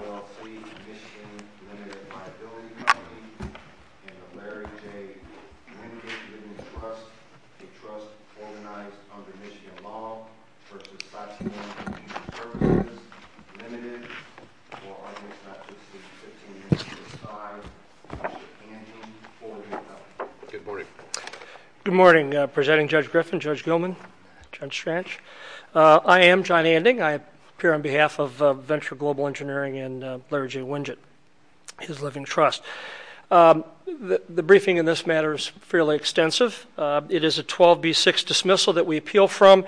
LLC, Michigan Limited Liability Company, and the Larry J. Winkett Women's Trust, a trust organized under Michigan law, v. Satyan Comp, Limited, or I guess not just the 15 B-6 dismissal that we appeal from,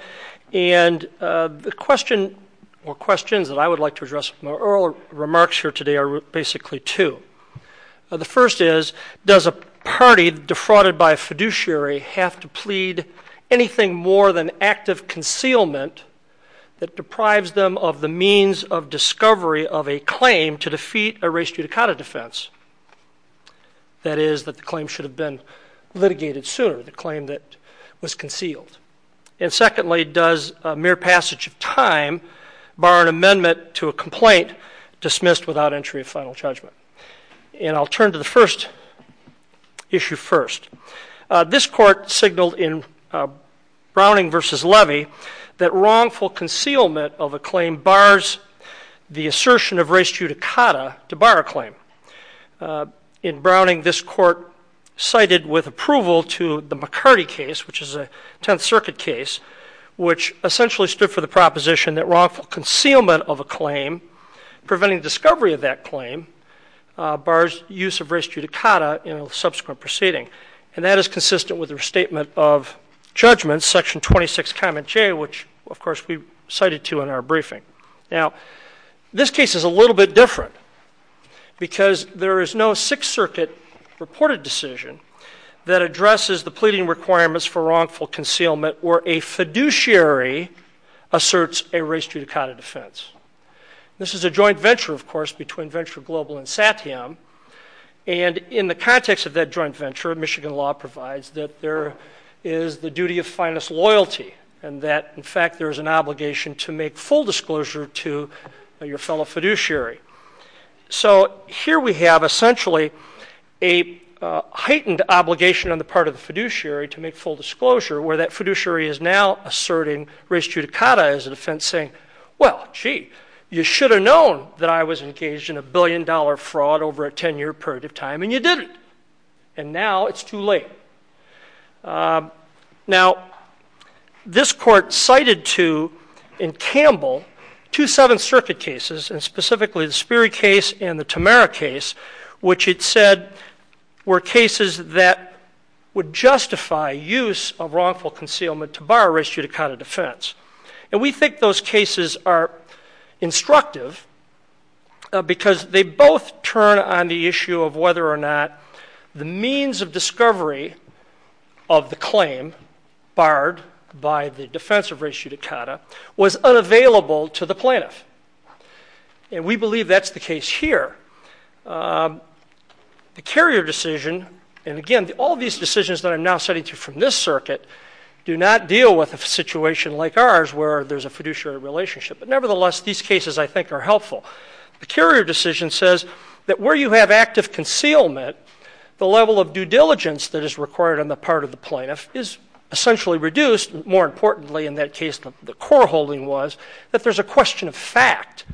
and the question or questions that I would like to The first is, does a party defrauded by a fiduciary have to plead anything more than active concealment that deprives them of the means of discovery of a claim to defeat a res judicata defense? That is, that the claim should have been litigated sooner, the claim that was concealed. And secondly, does a mere passage of time bar an amendment to a complaint dismissed without entry of final judgment? And I'll turn to the first issue first. This court signaled in Browning v. Levy that wrongful concealment of a claim bars the assertion of res judicata to bar a claim. In Browning, this court cited with approval to the McCarty case, which is a Tenth Circuit case, which essentially stood for the proposition that wrongful concealment of a claim, preventing discovery of that claim, bars use of res judicata in a subsequent proceeding. And that is consistent with the restatement of judgment, section 26, comment J, which of course we cited to in our briefing. Now, this case is a little bit different because there is no Sixth Circuit reported decision that addresses the pleading requirements for wrongful concealment where a fiduciary asserts a res judicata defense. This is a joint venture, of course, between Venture Global and Satiam. And in the context of that joint venture, Michigan law provides that there is the duty of finest loyalty and that in fact there is an obligation to make full disclosure to your fellow fiduciary. So here we have essentially a heightened obligation on the part of the fiduciary to make full disclosure where that fiduciary is now asserting res judicata as a defense saying, well, gee, you should have known that I was engaged in a billion dollar fraud over a ten year period of time and you didn't. And now it's too late. Now, this court cited to in Campbell two Seventh Circuit cases, and specifically the Sperry case and the Tamera case, which it said were cases that would justify use of wrongful concealment to bar res judicata defense. And we think those cases are instructive because they both turn on the issue of whether or not the means of discovery of the claim barred by the defense of res judicata was unavailable to the plaintiff. And we believe that's the case here. The Carrier decision, and again, all these decisions that I'm now citing from this circuit, do not deal with a situation like ours where there's a fiduciary relationship. But nevertheless, these cases I think are helpful. The Carrier decision says that where you have active concealment, the level of due diligence that is required on the part of the plaintiff is essentially reduced. More importantly, in that case, the core holding was that there's a question of fact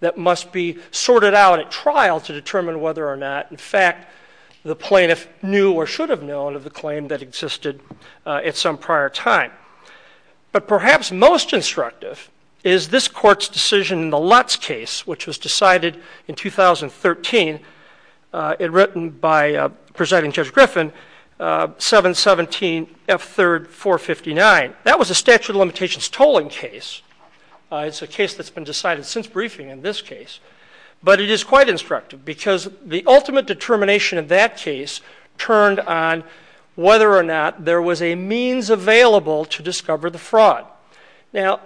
that must be sorted out at trial to determine whether or not, in fact, the plaintiff knew or should have known of the claim that existed at some prior time. But perhaps most instructive is this court's decision in the Lutz case, which was decided in 2013 and written by Presiding Judge Griffin, 717F3459. That was a statute of limitations tolling case. It's a case that's been decided since briefing in this case. But it is quite instructive because the ultimate determination in that case turned on whether or not there was a means available to discover the fraud. Now,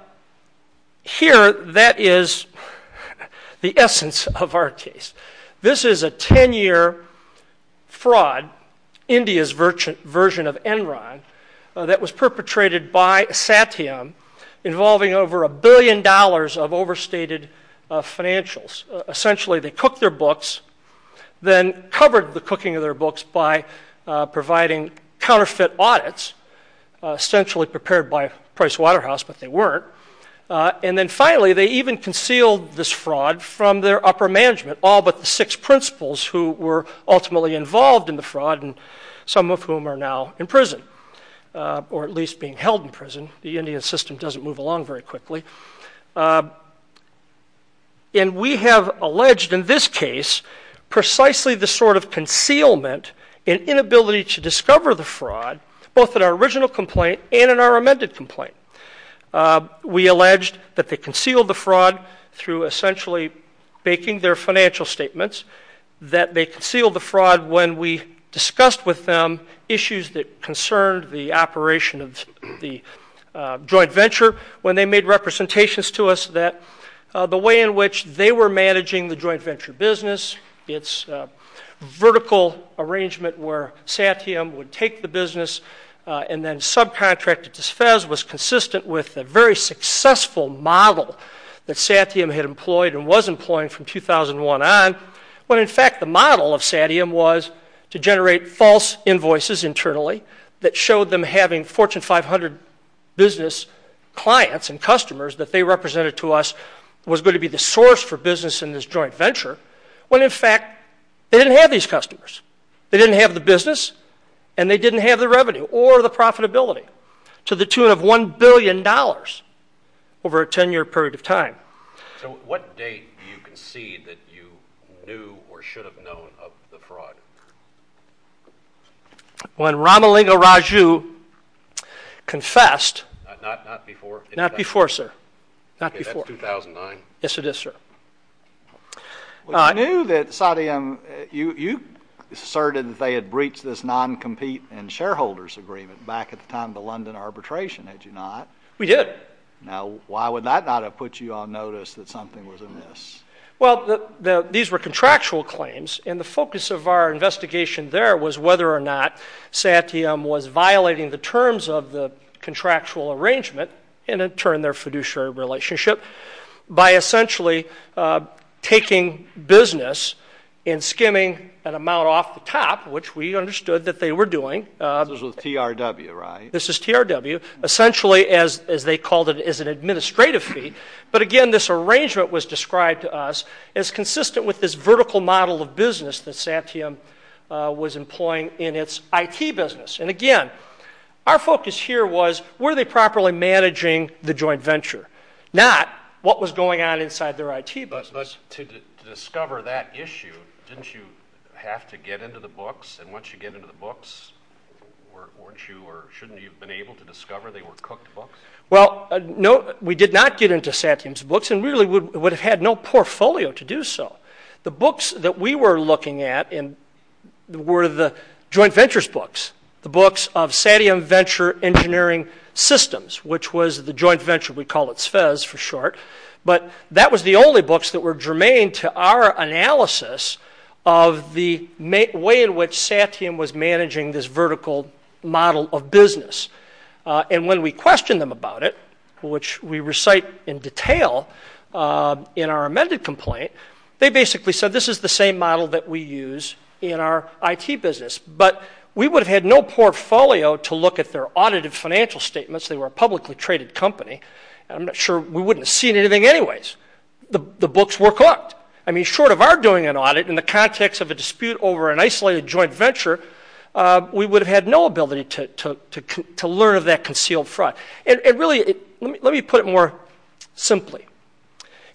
here that is the essence of our case. This is a 10-year fraud, India's version of Enron, that was perpetrated by Satyam, involving over a billion dollars of overstated financials. Essentially, they cooked their books, then covered the cooking of their books by providing counterfeit audits, essentially prepared by Price Waterhouse, but they weren't. And then finally, they even concealed this fraud from their upper management, all but the six principals who were ultimately involved in the fraud, some of whom are now in prison or at least being held in prison. The Indian system doesn't move along very quickly. And we have alleged in this case precisely the sort of concealment and inability to discover the fraud, both in our original complaint and in our amended complaint. We alleged that they concealed the fraud through essentially baking their financial statements, that they concealed the fraud when we discussed with them issues that concerned the operation of the joint venture, when they made representations to us that the way in which they were managing the joint venture business, its vertical arrangement where Satyam would take the business and then subcontract it to Fez was consistent with a very successful model that Satyam had employed and was employing from 2001 on, when in fact the model of Satyam was to generate false invoices internally that showed them having Fortune 500 business clients and customers that they represented to us was going to be the source for business in this joint venture, when in fact they didn't have these customers. They didn't have the business and they didn't have the revenue or the profitability to the tune of $1 billion over a 10-year period of time. So what date do you concede that you knew or should have known of the fraud? When Ramalinga Raju confessed... Not before? Not before, sir. Okay, that's 2009. Yes, it is, sir. You knew that Satyam, you asserted that they had breached this non-compete and shareholders agreement back at the time of the London arbitration, had you not? We did. Now, why would that not have put you on notice that something was amiss? Well, these were contractual claims, and the focus of our investigation there was whether or not Satyam was violating the terms of the contractual arrangement, and in turn their fiduciary relationship, by essentially taking business and skimming an amount off the top, which we understood that they were doing. This was with TRW, right? This is TRW. Essentially, as they called it, is an administrative fee. But again, this arrangement was described to us as consistent with this vertical model of business that Satyam was employing in its IT business. And again, our focus here was were they properly managing the joint venture, not what was going on inside their IT business. But to discover that issue, didn't you have to get into the books? And once you get into the books, weren't you or shouldn't you have been able to discover they were cooked books? Well, no, we did not get into Satyam's books, and really would have had no portfolio to do so. The books that we were looking at were the joint ventures books, the books of Satyam Venture Engineering Systems, which was the joint venture. We called it SFEZ for short. But that was the only books that were germane to our analysis of the way in which Satyam was managing this vertical model of business. And when we questioned them about it, which we recite in detail in our amended complaint, they basically said this is the same model that we use in our IT business. But we would have had no portfolio to look at their audited financial statements. They were a publicly traded company. I'm not sure we wouldn't have seen anything anyways. The books were cooked. I mean, short of our doing an audit in the context of a dispute over an isolated joint venture, we would have had no ability to learn of that concealed fraud. And really, let me put it more simply.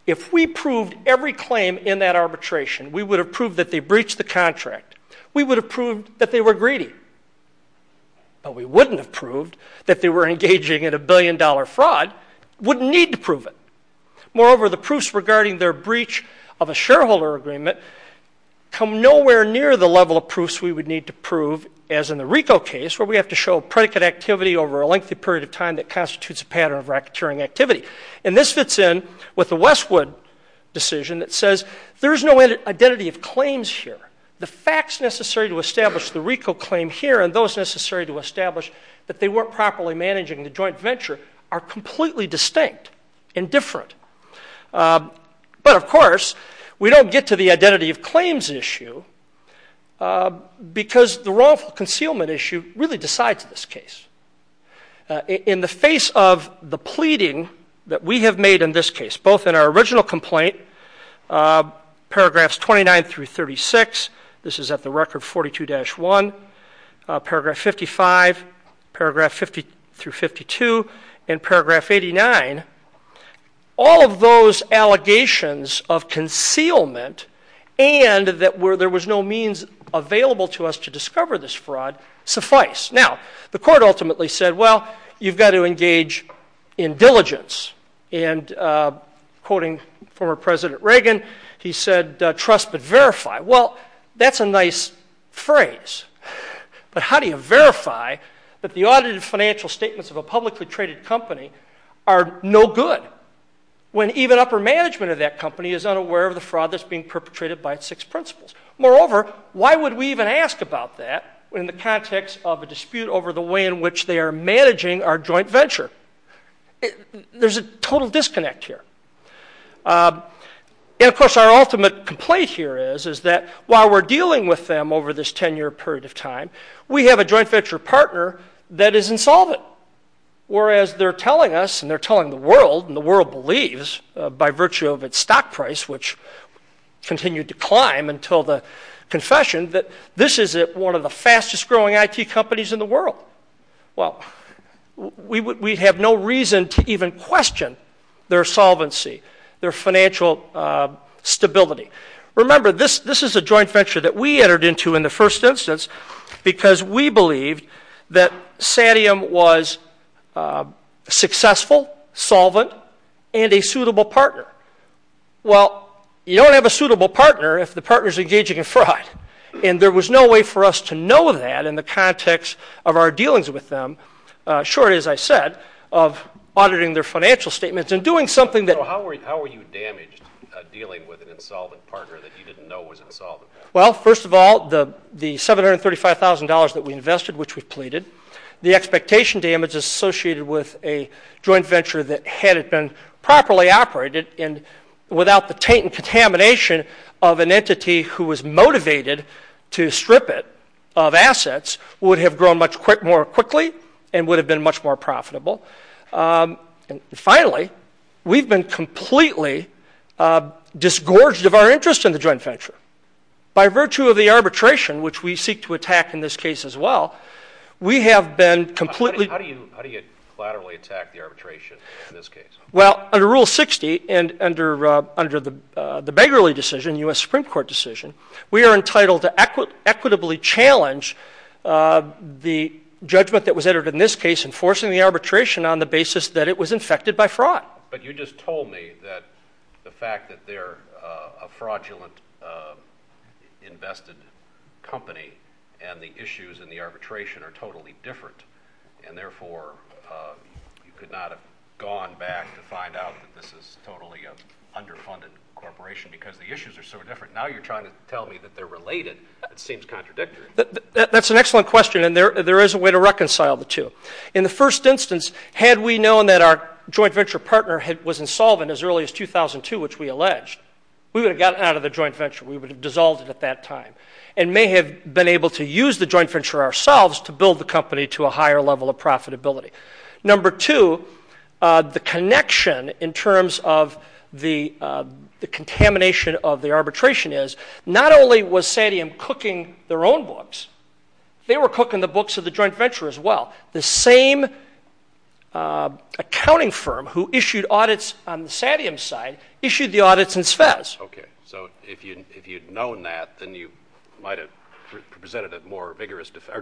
If we proved every claim in that arbitration, we would have proved that they breached the contract. We would have proved that they were greedy. But we wouldn't have proved that they were engaging in a billion-dollar fraud. We wouldn't need to prove it. Moreover, the proofs regarding their breach of a shareholder agreement come nowhere near the level of proofs we would need to prove, as in the RICO case, where we have to show predicate activity over a lengthy period of time that constitutes a pattern of racketeering activity. And this fits in with the Westwood decision that says there is no identity of claims here. The facts necessary to establish the RICO claim here and those necessary to establish that they weren't properly managing the joint venture are completely distinct and different. But, of course, we don't get to the identity of claims issue because the wrongful concealment issue really decides this case. In the face of the pleading that we have made in this case, both in our original complaint, paragraphs 29 through 36, this is at the record 42-1, paragraph 55, paragraph 50-52, and paragraph 89, all of those allegations of concealment and that there was no means available to us to discover this fraud suffice. Now, the court ultimately said, well, you've got to engage in diligence. And quoting former President Reagan, he said, trust but verify. Well, that's a nice phrase, but how do you verify that the audited financial statements of a publicly traded company are no good when even upper management of that company is unaware of the fraud that's being perpetrated by its six principles? Moreover, why would we even ask about that in the context of a dispute over the way in which they are managing our joint venture? There's a total disconnect here. And, of course, our ultimate complaint here is, is that while we're dealing with them over this 10-year period of time, we have a joint venture partner that is insolvent, whereas they're telling us and they're telling the world, and the world believes by virtue of its stock price, which continued to climb until the confession, Well, we have no reason to even question their solvency, their financial stability. Remember, this is a joint venture that we entered into in the first instance because we believed that Satium was successful, solvent, and a suitable partner. Well, you don't have a suitable partner if the partner is engaging in fraud. And there was no way for us to know that in the context of our dealings with them, short, as I said, of auditing their financial statements and doing something that... So how were you damaged dealing with an insolvent partner that you didn't know was insolvent? Well, first of all, the $735,000 that we invested, which we pleaded, the expectation damage associated with a joint venture that hadn't been properly operated and without the taint and contamination of an entity who was motivated to strip it of assets would have grown much more quickly and would have been much more profitable. And finally, we've been completely disgorged of our interest in the joint venture. By virtue of the arbitration, which we seek to attack in this case as well, we have been completely... How do you collaterally attack the arbitration in this case? Well, under Rule 60 and under the Begley decision, U.S. Supreme Court decision, we are entitled to equitably challenge the judgment that was entered in this case enforcing the arbitration on the basis that it was infected by fraud. But you just told me that the fact that they're a fraudulent invested company and the issues in the arbitration are totally different and therefore you could not have gone back to find out that this is totally an underfunded corporation because the issues are so different. Now you're trying to tell me that they're related. That seems contradictory. That's an excellent question, and there is a way to reconcile the two. In the first instance, had we known that our joint venture partner was insolvent as early as 2002, which we alleged, we would have gotten out of the joint venture. We would have dissolved it at that time and may have been able to use the joint venture ourselves to build the company to a higher level of profitability. Number two, the connection in terms of the contamination of the arbitration is not only was Satiem cooking their own books, they were cooking the books of the joint venture as well. The same accounting firm who issued audits on the Satiem side issued the audits in SVEZ. Okay. So if you'd known that, then you might have presented a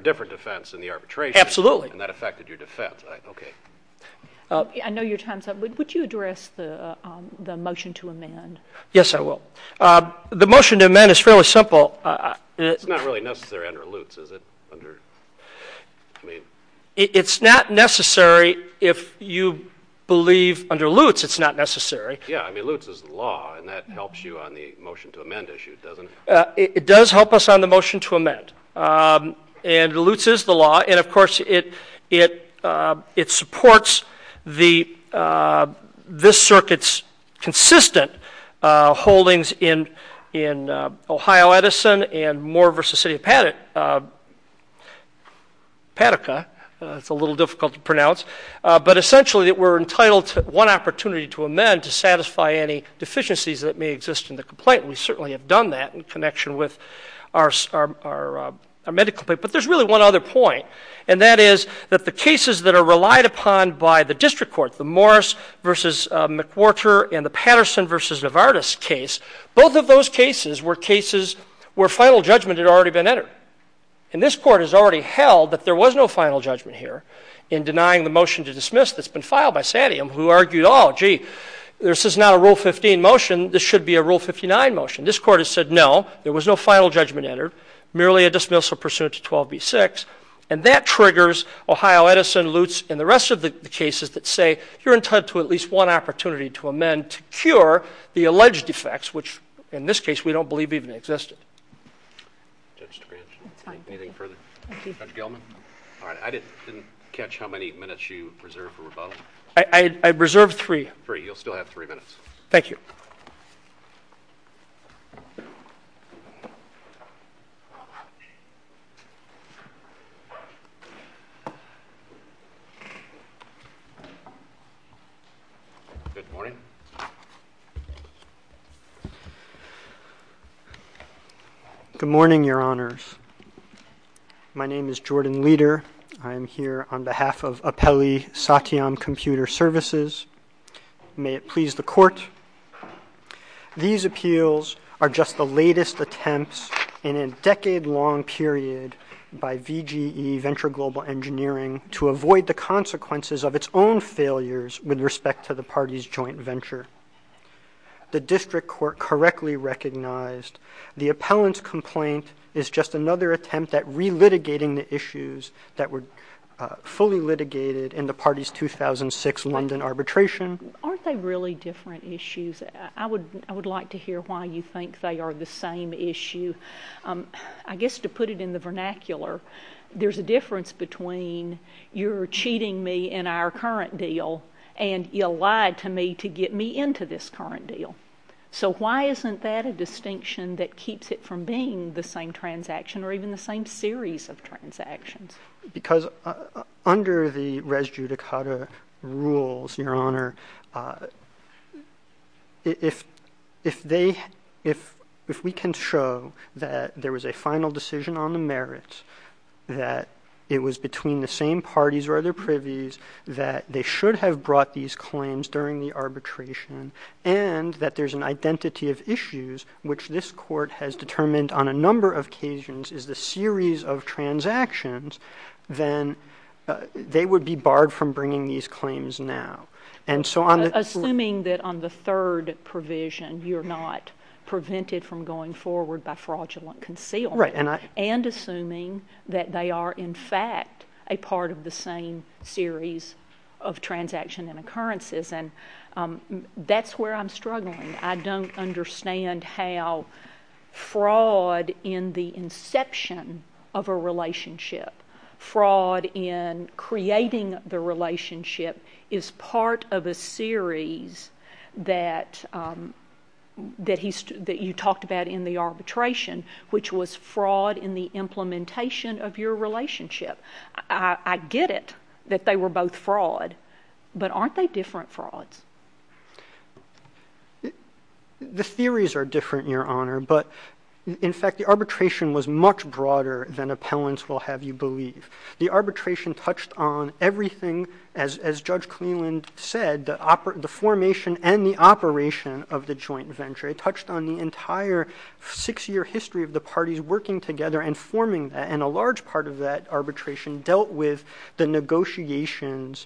different defense in the arbitration. Absolutely. And that affected your defense. Okay. I know your time is up. Would you address the motion to amend? Yes, I will. The motion to amend is fairly simple. It's not really necessary under Lutz, is it? It's not necessary if you believe under Lutz it's not necessary. Yeah, I mean, Lutz is the law, and that helps you on the motion to amend issue, doesn't it? It does help us on the motion to amend. And Lutz is the law. And, of course, it supports this circuit's consistent holdings in Ohio Edison and Moore v. City of Paddock. It's a little difficult to pronounce. But, essentially, we're entitled to one opportunity to amend to satisfy any deficiencies that may exist in the complaint. We certainly have done that in connection with our medical complaint. But there's really one other point, and that is that the cases that are relied upon by the district court, the Morris v. McWhorter and the Patterson v. Navartis case, both of those cases were cases where final judgment had already been entered. And this court has already held that there was no final judgment here in denying the motion to dismiss that's been filed by Satiem, who argued, oh, gee, this is not a Rule 15 motion. This should be a Rule 59 motion. This court has said, no, there was no final judgment entered, merely a dismissal pursuant to 12b-6. And that triggers Ohio Edison, Lutz, and the rest of the cases that say you're entitled to at least one opportunity to amend to cure the alleged defects, which, in this case, we don't believe even existed. Judge DeGrange, anything further? Thank you. Judge Gelman? All right, I didn't catch how many minutes you reserved for rebuttal. I reserved three. Three. You'll still have three minutes. Thank you. Good morning. Good morning, Your Honors. My name is Jordan Leder. I am here on behalf of Apelli Satiem Computer Services. May it please the Court, these appeals are just the latest attempts in a decade-long period by VGE, Venture Global Engineering, to avoid the consequences of its own failures with respect to the party's joint venture. The district court correctly recognized the appellant's complaint is just another attempt at relitigating the issues that were fully litigated in the party's 2006 London arbitration. Aren't they really different issues? I would like to hear why you think they are the same issue. I guess to put it in the vernacular, there's a difference between you're cheating me in our current deal and you lied to me to get me into this current deal. So why isn't that a distinction that keeps it from being the same transaction or even the same series of transactions? Because under the res judicata rules, Your Honor, if we can show that there was a final decision on the merits, that it was between the same parties or other privies, that they should have brought these claims during the arbitration, and that there's an identity of issues, which this court has determined on a number of occasions is the series of transactions, then they would be barred from bringing these claims now. Assuming that on the third provision you're not prevented from going forward by fraudulent concealment and assuming that they are, in fact, a part of the same series of transaction and occurrences. That's where I'm struggling. I don't understand how fraud in the inception of a relationship, fraud in creating the relationship, is part of a series that you talked about in the arbitration, which was fraud in the implementation of your relationship. I get it that they were both fraud, but aren't they different frauds? The theories are different, Your Honor, but in fact the arbitration was much broader than appellants will have you believe. The arbitration touched on everything, as Judge Cleland said, the formation and the operation of the joint venture. It touched on the entire six-year history of the parties working together and forming that, and a large part of that arbitration dealt with the negotiations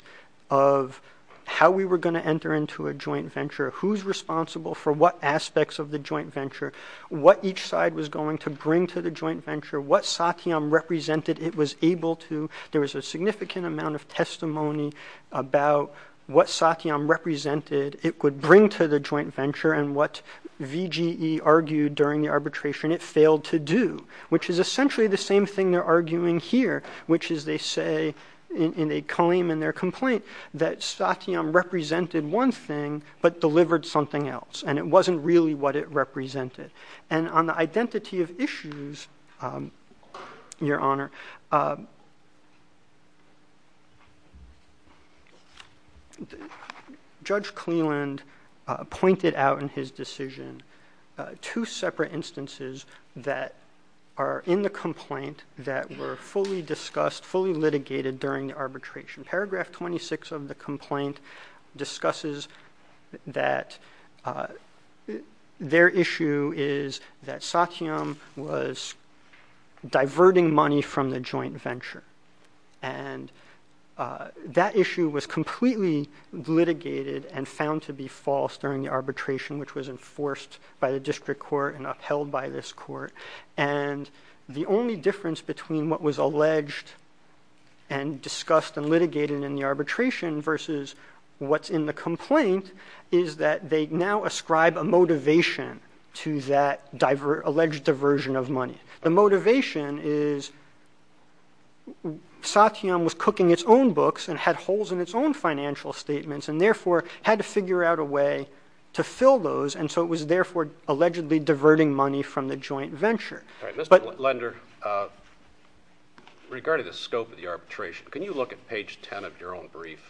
of how we were going to enter into a joint venture, who's responsible for what aspects of the joint venture, what each side was going to bring to the joint venture, what Satyam represented it was able to. There was a significant amount of testimony about what Satyam represented it would bring to the joint venture and what VGE argued during the arbitration it failed to do, which is essentially the same thing they're arguing here, which is they say in a claim in their complaint that Satyam represented one thing but delivered something else, and it wasn't really what it represented. And on the identity of issues, Your Honor, Judge Cleland pointed out in his decision two separate instances that are in the complaint that were fully discussed, fully litigated during the arbitration. Paragraph 26 of the complaint discusses that their issue is that Satyam was diverting money from the joint venture, and that issue was completely litigated and found to be false during the arbitration, which was enforced by the district court and upheld by this court. And the only difference between what was alleged and discussed and litigated in the arbitration versus what's in the complaint is that they now ascribe a motivation to that alleged diversion of money. The motivation is Satyam was cooking its own books and had holes in its own financial statements and therefore had to figure out a way to fill those, and so it was therefore allegedly diverting money from the joint venture. Mr. Lender, regarding the scope of the arbitration, can you look at page 10 of your own brief?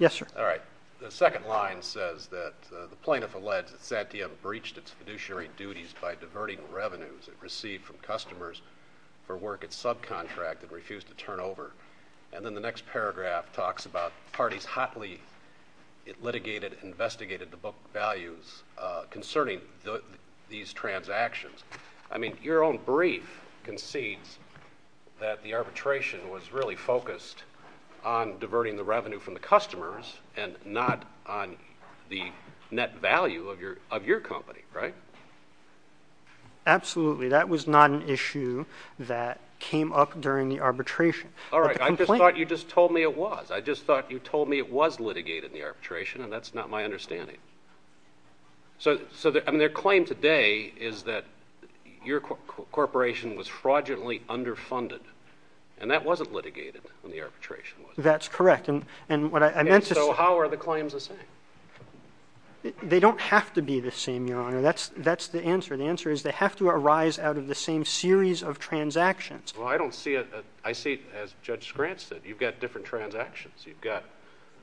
Yes, sir. All right. The second line says that the plaintiff alleged that Satyam breached its fiduciary duties by diverting revenues it received from customers for work at subcontract and refused to turn over. And then the next paragraph talks about parties hotly litigated and investigated the book values concerning these transactions. I mean, your own brief concedes that the arbitration was really focused on diverting the revenue from the customers and not on the net value of your company, right? Absolutely. That was not an issue that came up during the arbitration. All right. I just thought you just told me it was. I just thought you told me it was litigated in the arbitration, and that's not my understanding. So their claim today is that your corporation was fraudulently underfunded, and that wasn't litigated in the arbitration, was it? That's correct. And what I meant to say— And so how are the claims the same? They don't have to be the same, Your Honor. That's the answer. The answer is they have to arise out of the same series of transactions. Well, I don't see it. I see it, as Judge Scrantz said, you've got different transactions. You've got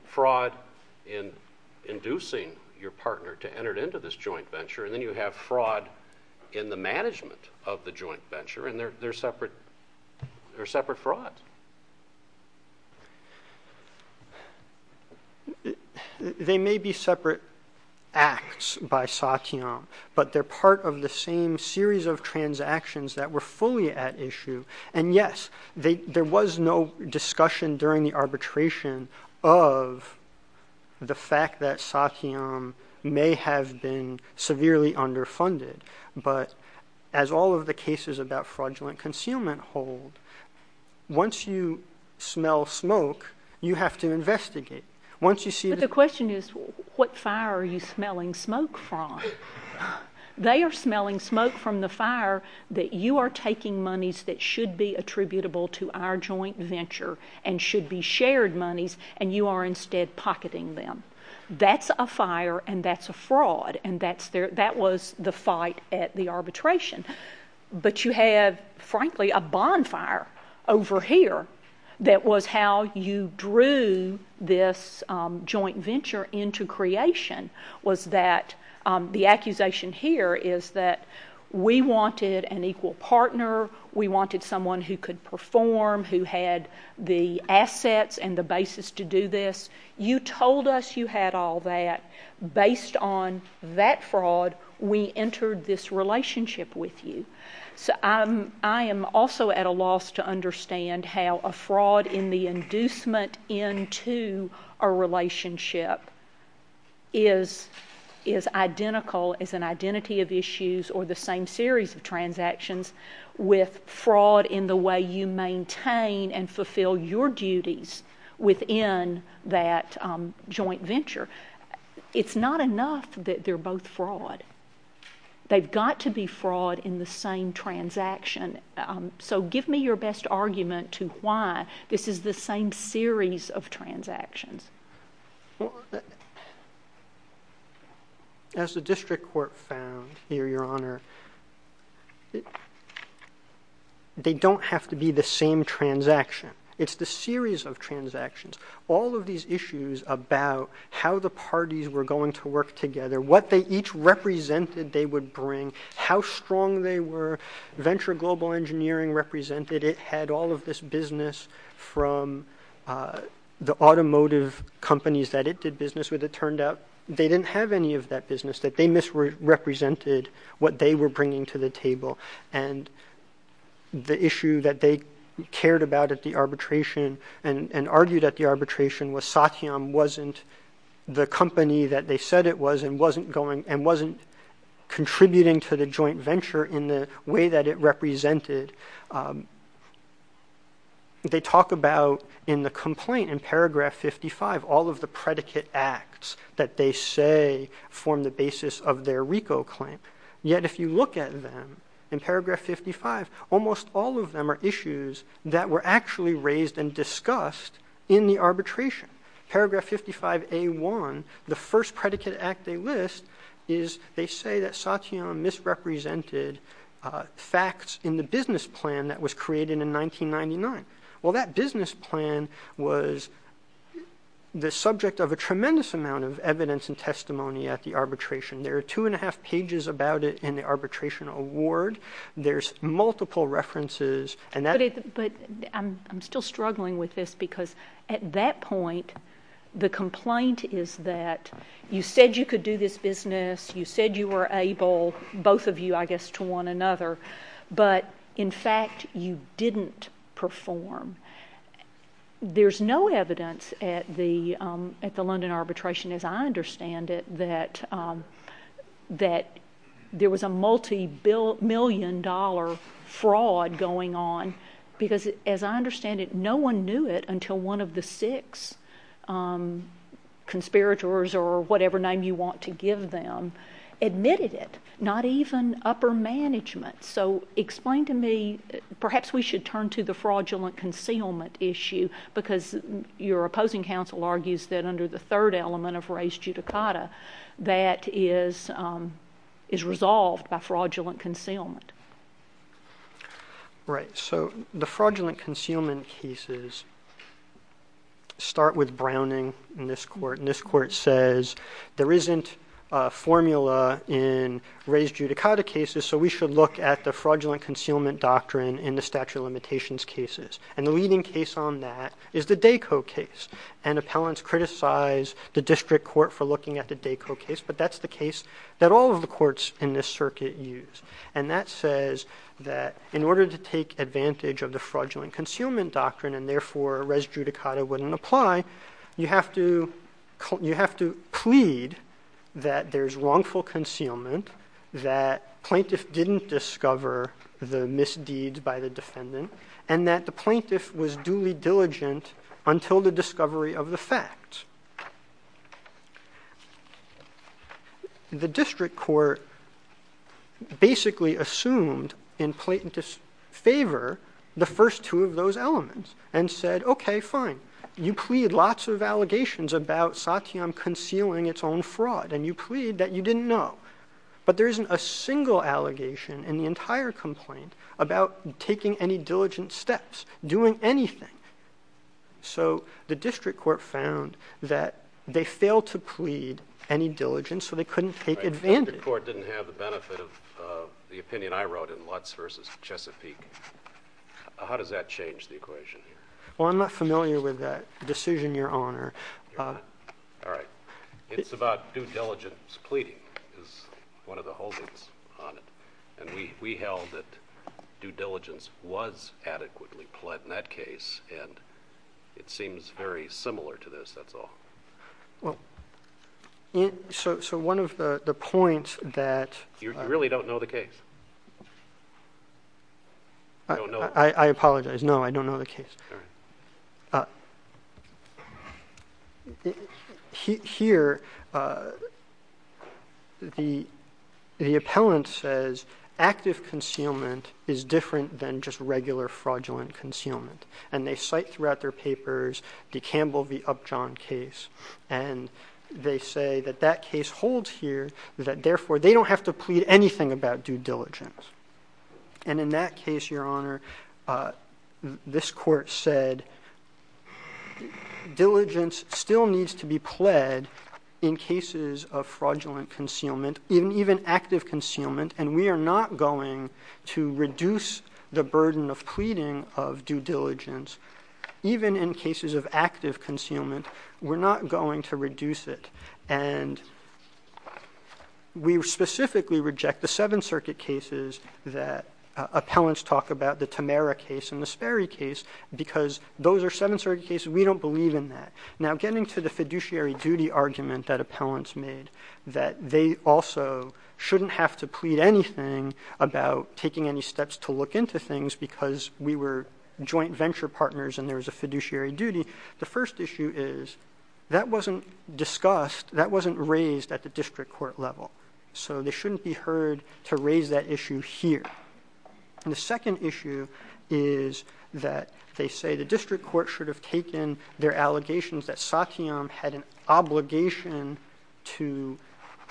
fraud in inducing your partner to enter into this joint venture, and then you have fraud in the management of the joint venture, and they're separate frauds. They may be separate acts by Satyam, but they're part of the same series of transactions that were fully at issue. And, yes, there was no discussion during the arbitration of the fact that Satyam may have been severely underfunded. But as all of the cases about fraudulent concealment hold, once you smell smoke, you have to investigate. Once you see— But the question is what fire are you smelling smoke from? They are smelling smoke from the fire that you are taking monies that should be attributable to our joint venture and should be shared monies, and you are instead pocketing them. That's a fire, and that's a fraud, and that was the fight at the arbitration. But you have, frankly, a bonfire over here that was how you drew this joint venture into creation, was that the accusation here is that we wanted an equal partner. We wanted someone who could perform, who had the assets and the basis to do this. You told us you had all that. Based on that fraud, we entered this relationship with you. I am also at a loss to understand how a fraud in the inducement into a relationship is identical as an identity of issues or the same series of transactions with fraud in the way you maintain and fulfill your duties within that joint venture. It's not enough that they're both fraud. They've got to be fraud in the same transaction. So give me your best argument to why this is the same series of transactions. As the district court found here, Your Honor, they don't have to be the same transaction. It's the series of transactions. All of these issues about how the parties were going to work together, what they each represented they would bring, how strong they were, venture global engineering represented it, had all of this business from the automotive companies that it did business with. It turned out they didn't have any of that business, and the issue that they cared about at the arbitration and argued at the arbitration was Satyam wasn't the company that they said it was and wasn't going and wasn't contributing to the joint venture in the way that it represented. They talk about in the complaint in paragraph 55, all of the predicate acts that they say form the basis of their RICO claim. Yet if you look at them in paragraph 55, almost all of them are issues that were actually raised and discussed in the arbitration. Paragraph 55A1, the first predicate act they list, is they say that Satyam misrepresented facts in the business plan that was created in 1999. Well, that business plan was the subject of a tremendous amount of evidence and testimony at the arbitration. There are two and a half pages about it in the arbitration award. There's multiple references. But I'm still struggling with this because at that point, the complaint is that you said you could do this business, you said you were able, both of you I guess to one another, but in fact you didn't perform. There's no evidence at the London arbitration as I understand it that there was a multi-million dollar fraud going on. Because as I understand it, no one knew it until one of the six conspirators or whatever name you want to give them admitted it, not even upper management. So explain to me, perhaps we should turn to the fraudulent concealment issue because your opposing counsel argues that under the third element of res judicata, that is resolved by fraudulent concealment. Right. So the fraudulent concealment cases start with Browning in this court. And this court says there isn't a formula in res judicata cases, so we should look at the fraudulent concealment doctrine in the statute of limitations cases. And the leading case on that is the DACO case. And appellants criticize the district court for looking at the DACO case, but that's the case that all of the courts in this circuit use. And that says that in order to take advantage of the fraudulent concealment doctrine and therefore res judicata wouldn't apply, you have to plead that there's wrongful concealment, that plaintiffs didn't discover the misdeeds by the defendant, and that the plaintiff was duly diligent until the discovery of the fact. The district court basically assumed in plaintiff's favor the first two of those elements and said, okay, fine. You plead lots of allegations about Satiam concealing its own fraud, and you plead that you didn't know. But there isn't a single allegation in the entire complaint about taking any diligent steps, doing anything. So the district court found that they failed to plead any diligence so they couldn't take advantage. The district court didn't have the benefit of the opinion I wrote in Lutz v. Chesapeake. How does that change the equation here? Well, I'm not familiar with that decision, Your Honor. All right. It's about due diligence. Pleading is one of the holdings on it. And we held that due diligence was adequately pled in that case, and it seems very similar to this, that's all. Well, so one of the points that – You really don't know the case? I apologize. No, I don't know the case. All right. Here, the appellant says active concealment is different than just regular fraudulent concealment. And they cite throughout their papers the Campbell v. Upjohn case, and they say that that case holds here, that therefore they don't have to plead anything about due diligence. And in that case, Your Honor, this court said, diligence still needs to be pled in cases of fraudulent concealment, even active concealment, and we are not going to reduce the burden of pleading of due diligence. Even in cases of active concealment, we're not going to reduce it. And we specifically reject the Seventh Circuit cases that appellants talk about, the Tamera case and the Sperry case, because those are Seventh Circuit cases. We don't believe in that. Now, getting to the fiduciary duty argument that appellants made, that they also shouldn't have to plead anything about taking any steps to look into things because we were joint venture partners and there was a fiduciary duty, the first issue is that wasn't discussed, that wasn't raised at the district court level. So they shouldn't be heard to raise that issue here. And the second issue is that they say the district court should have taken their allegations that Satyam had an obligation to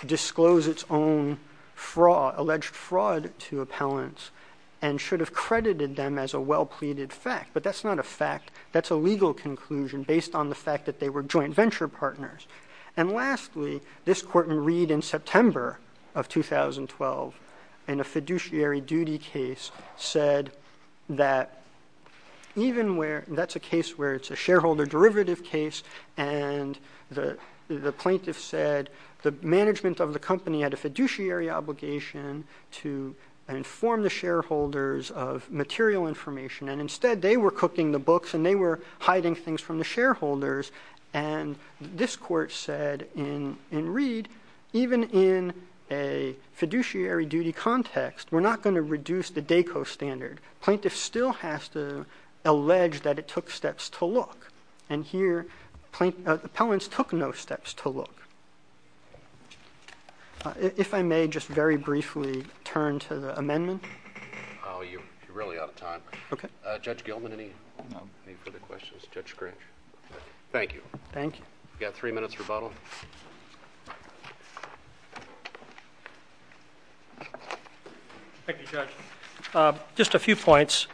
disclose its own fraud, alleged fraud to appellants, and should have credited them as a well-pleaded fact, but that's not a fact. That's a legal conclusion based on the fact that they were joint venture partners. And lastly, this court in Reed in September of 2012, in a fiduciary duty case, said that even where that's a case where it's a shareholder derivative case and the plaintiff said the management of the company had a fiduciary obligation to inform the shareholders of material information, and instead they were cooking the books and they were hiding things from the shareholders. And this court said in Reed, even in a fiduciary duty context, we're not going to reduce the DACO standard. Plaintiff still has to allege that it took steps to look. And here appellants took no steps to look. If I may just very briefly turn to the amendment. You're really out of time. Judge Gilman, any further questions? Thank you. We've got three minutes rebuttal. Thank you, Judge. Just a few points.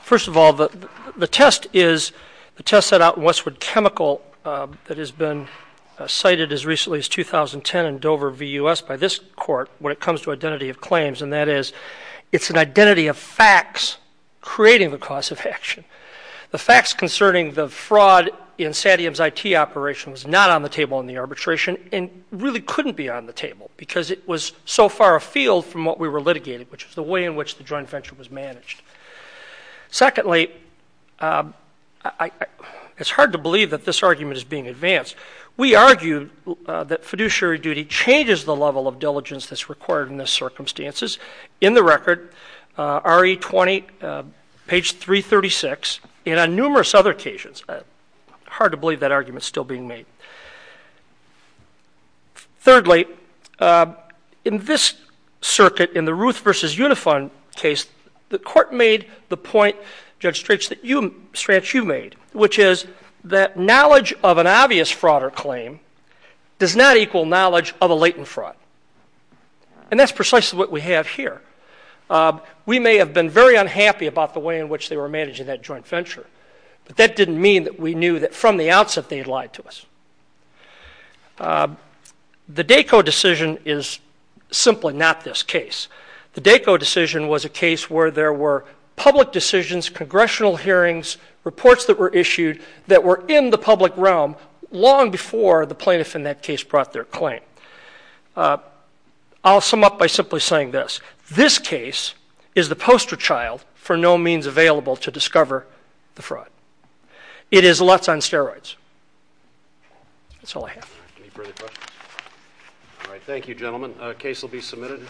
First of all, the test set out in Westwood Chemical that has been cited as recently as 2010 in Dover v. U.S. by this court when it comes to identity of claims, and that is it's an identity of facts creating the cause of action. The facts concerning the fraud in Satyam's IT operation was not on the table in the arbitration and really couldn't be on the table because it was so far afield from what we were litigating, which was the way in which the joint venture was managed. Secondly, it's hard to believe that this argument is being advanced. We argue that fiduciary duty changes the level of diligence that's required in the circumstances. In the record, RE 20, page 336, and on numerous other occasions, it's hard to believe that argument is still being made. Thirdly, in this circuit, in the Ruth v. Unifund case, the court made the point, Judge Strach, that you made, which is that knowledge of an obvious fraud or claim does not equal knowledge of a latent fraud, and that's precisely what we have here. We may have been very unhappy about the way in which they were managing that joint venture, but that didn't mean that we knew that from the outset they had lied to us. The DACO decision is simply not this case. The DACO decision was a case where there were public decisions, congressional hearings, reports that were issued that were in the public realm long before the plaintiff in that case brought their claim. I'll sum up by simply saying this. This case is the poster child for no means available to discover the fraud. It is lutz on steroids. That's all I have. Any further questions? The case will be submitted.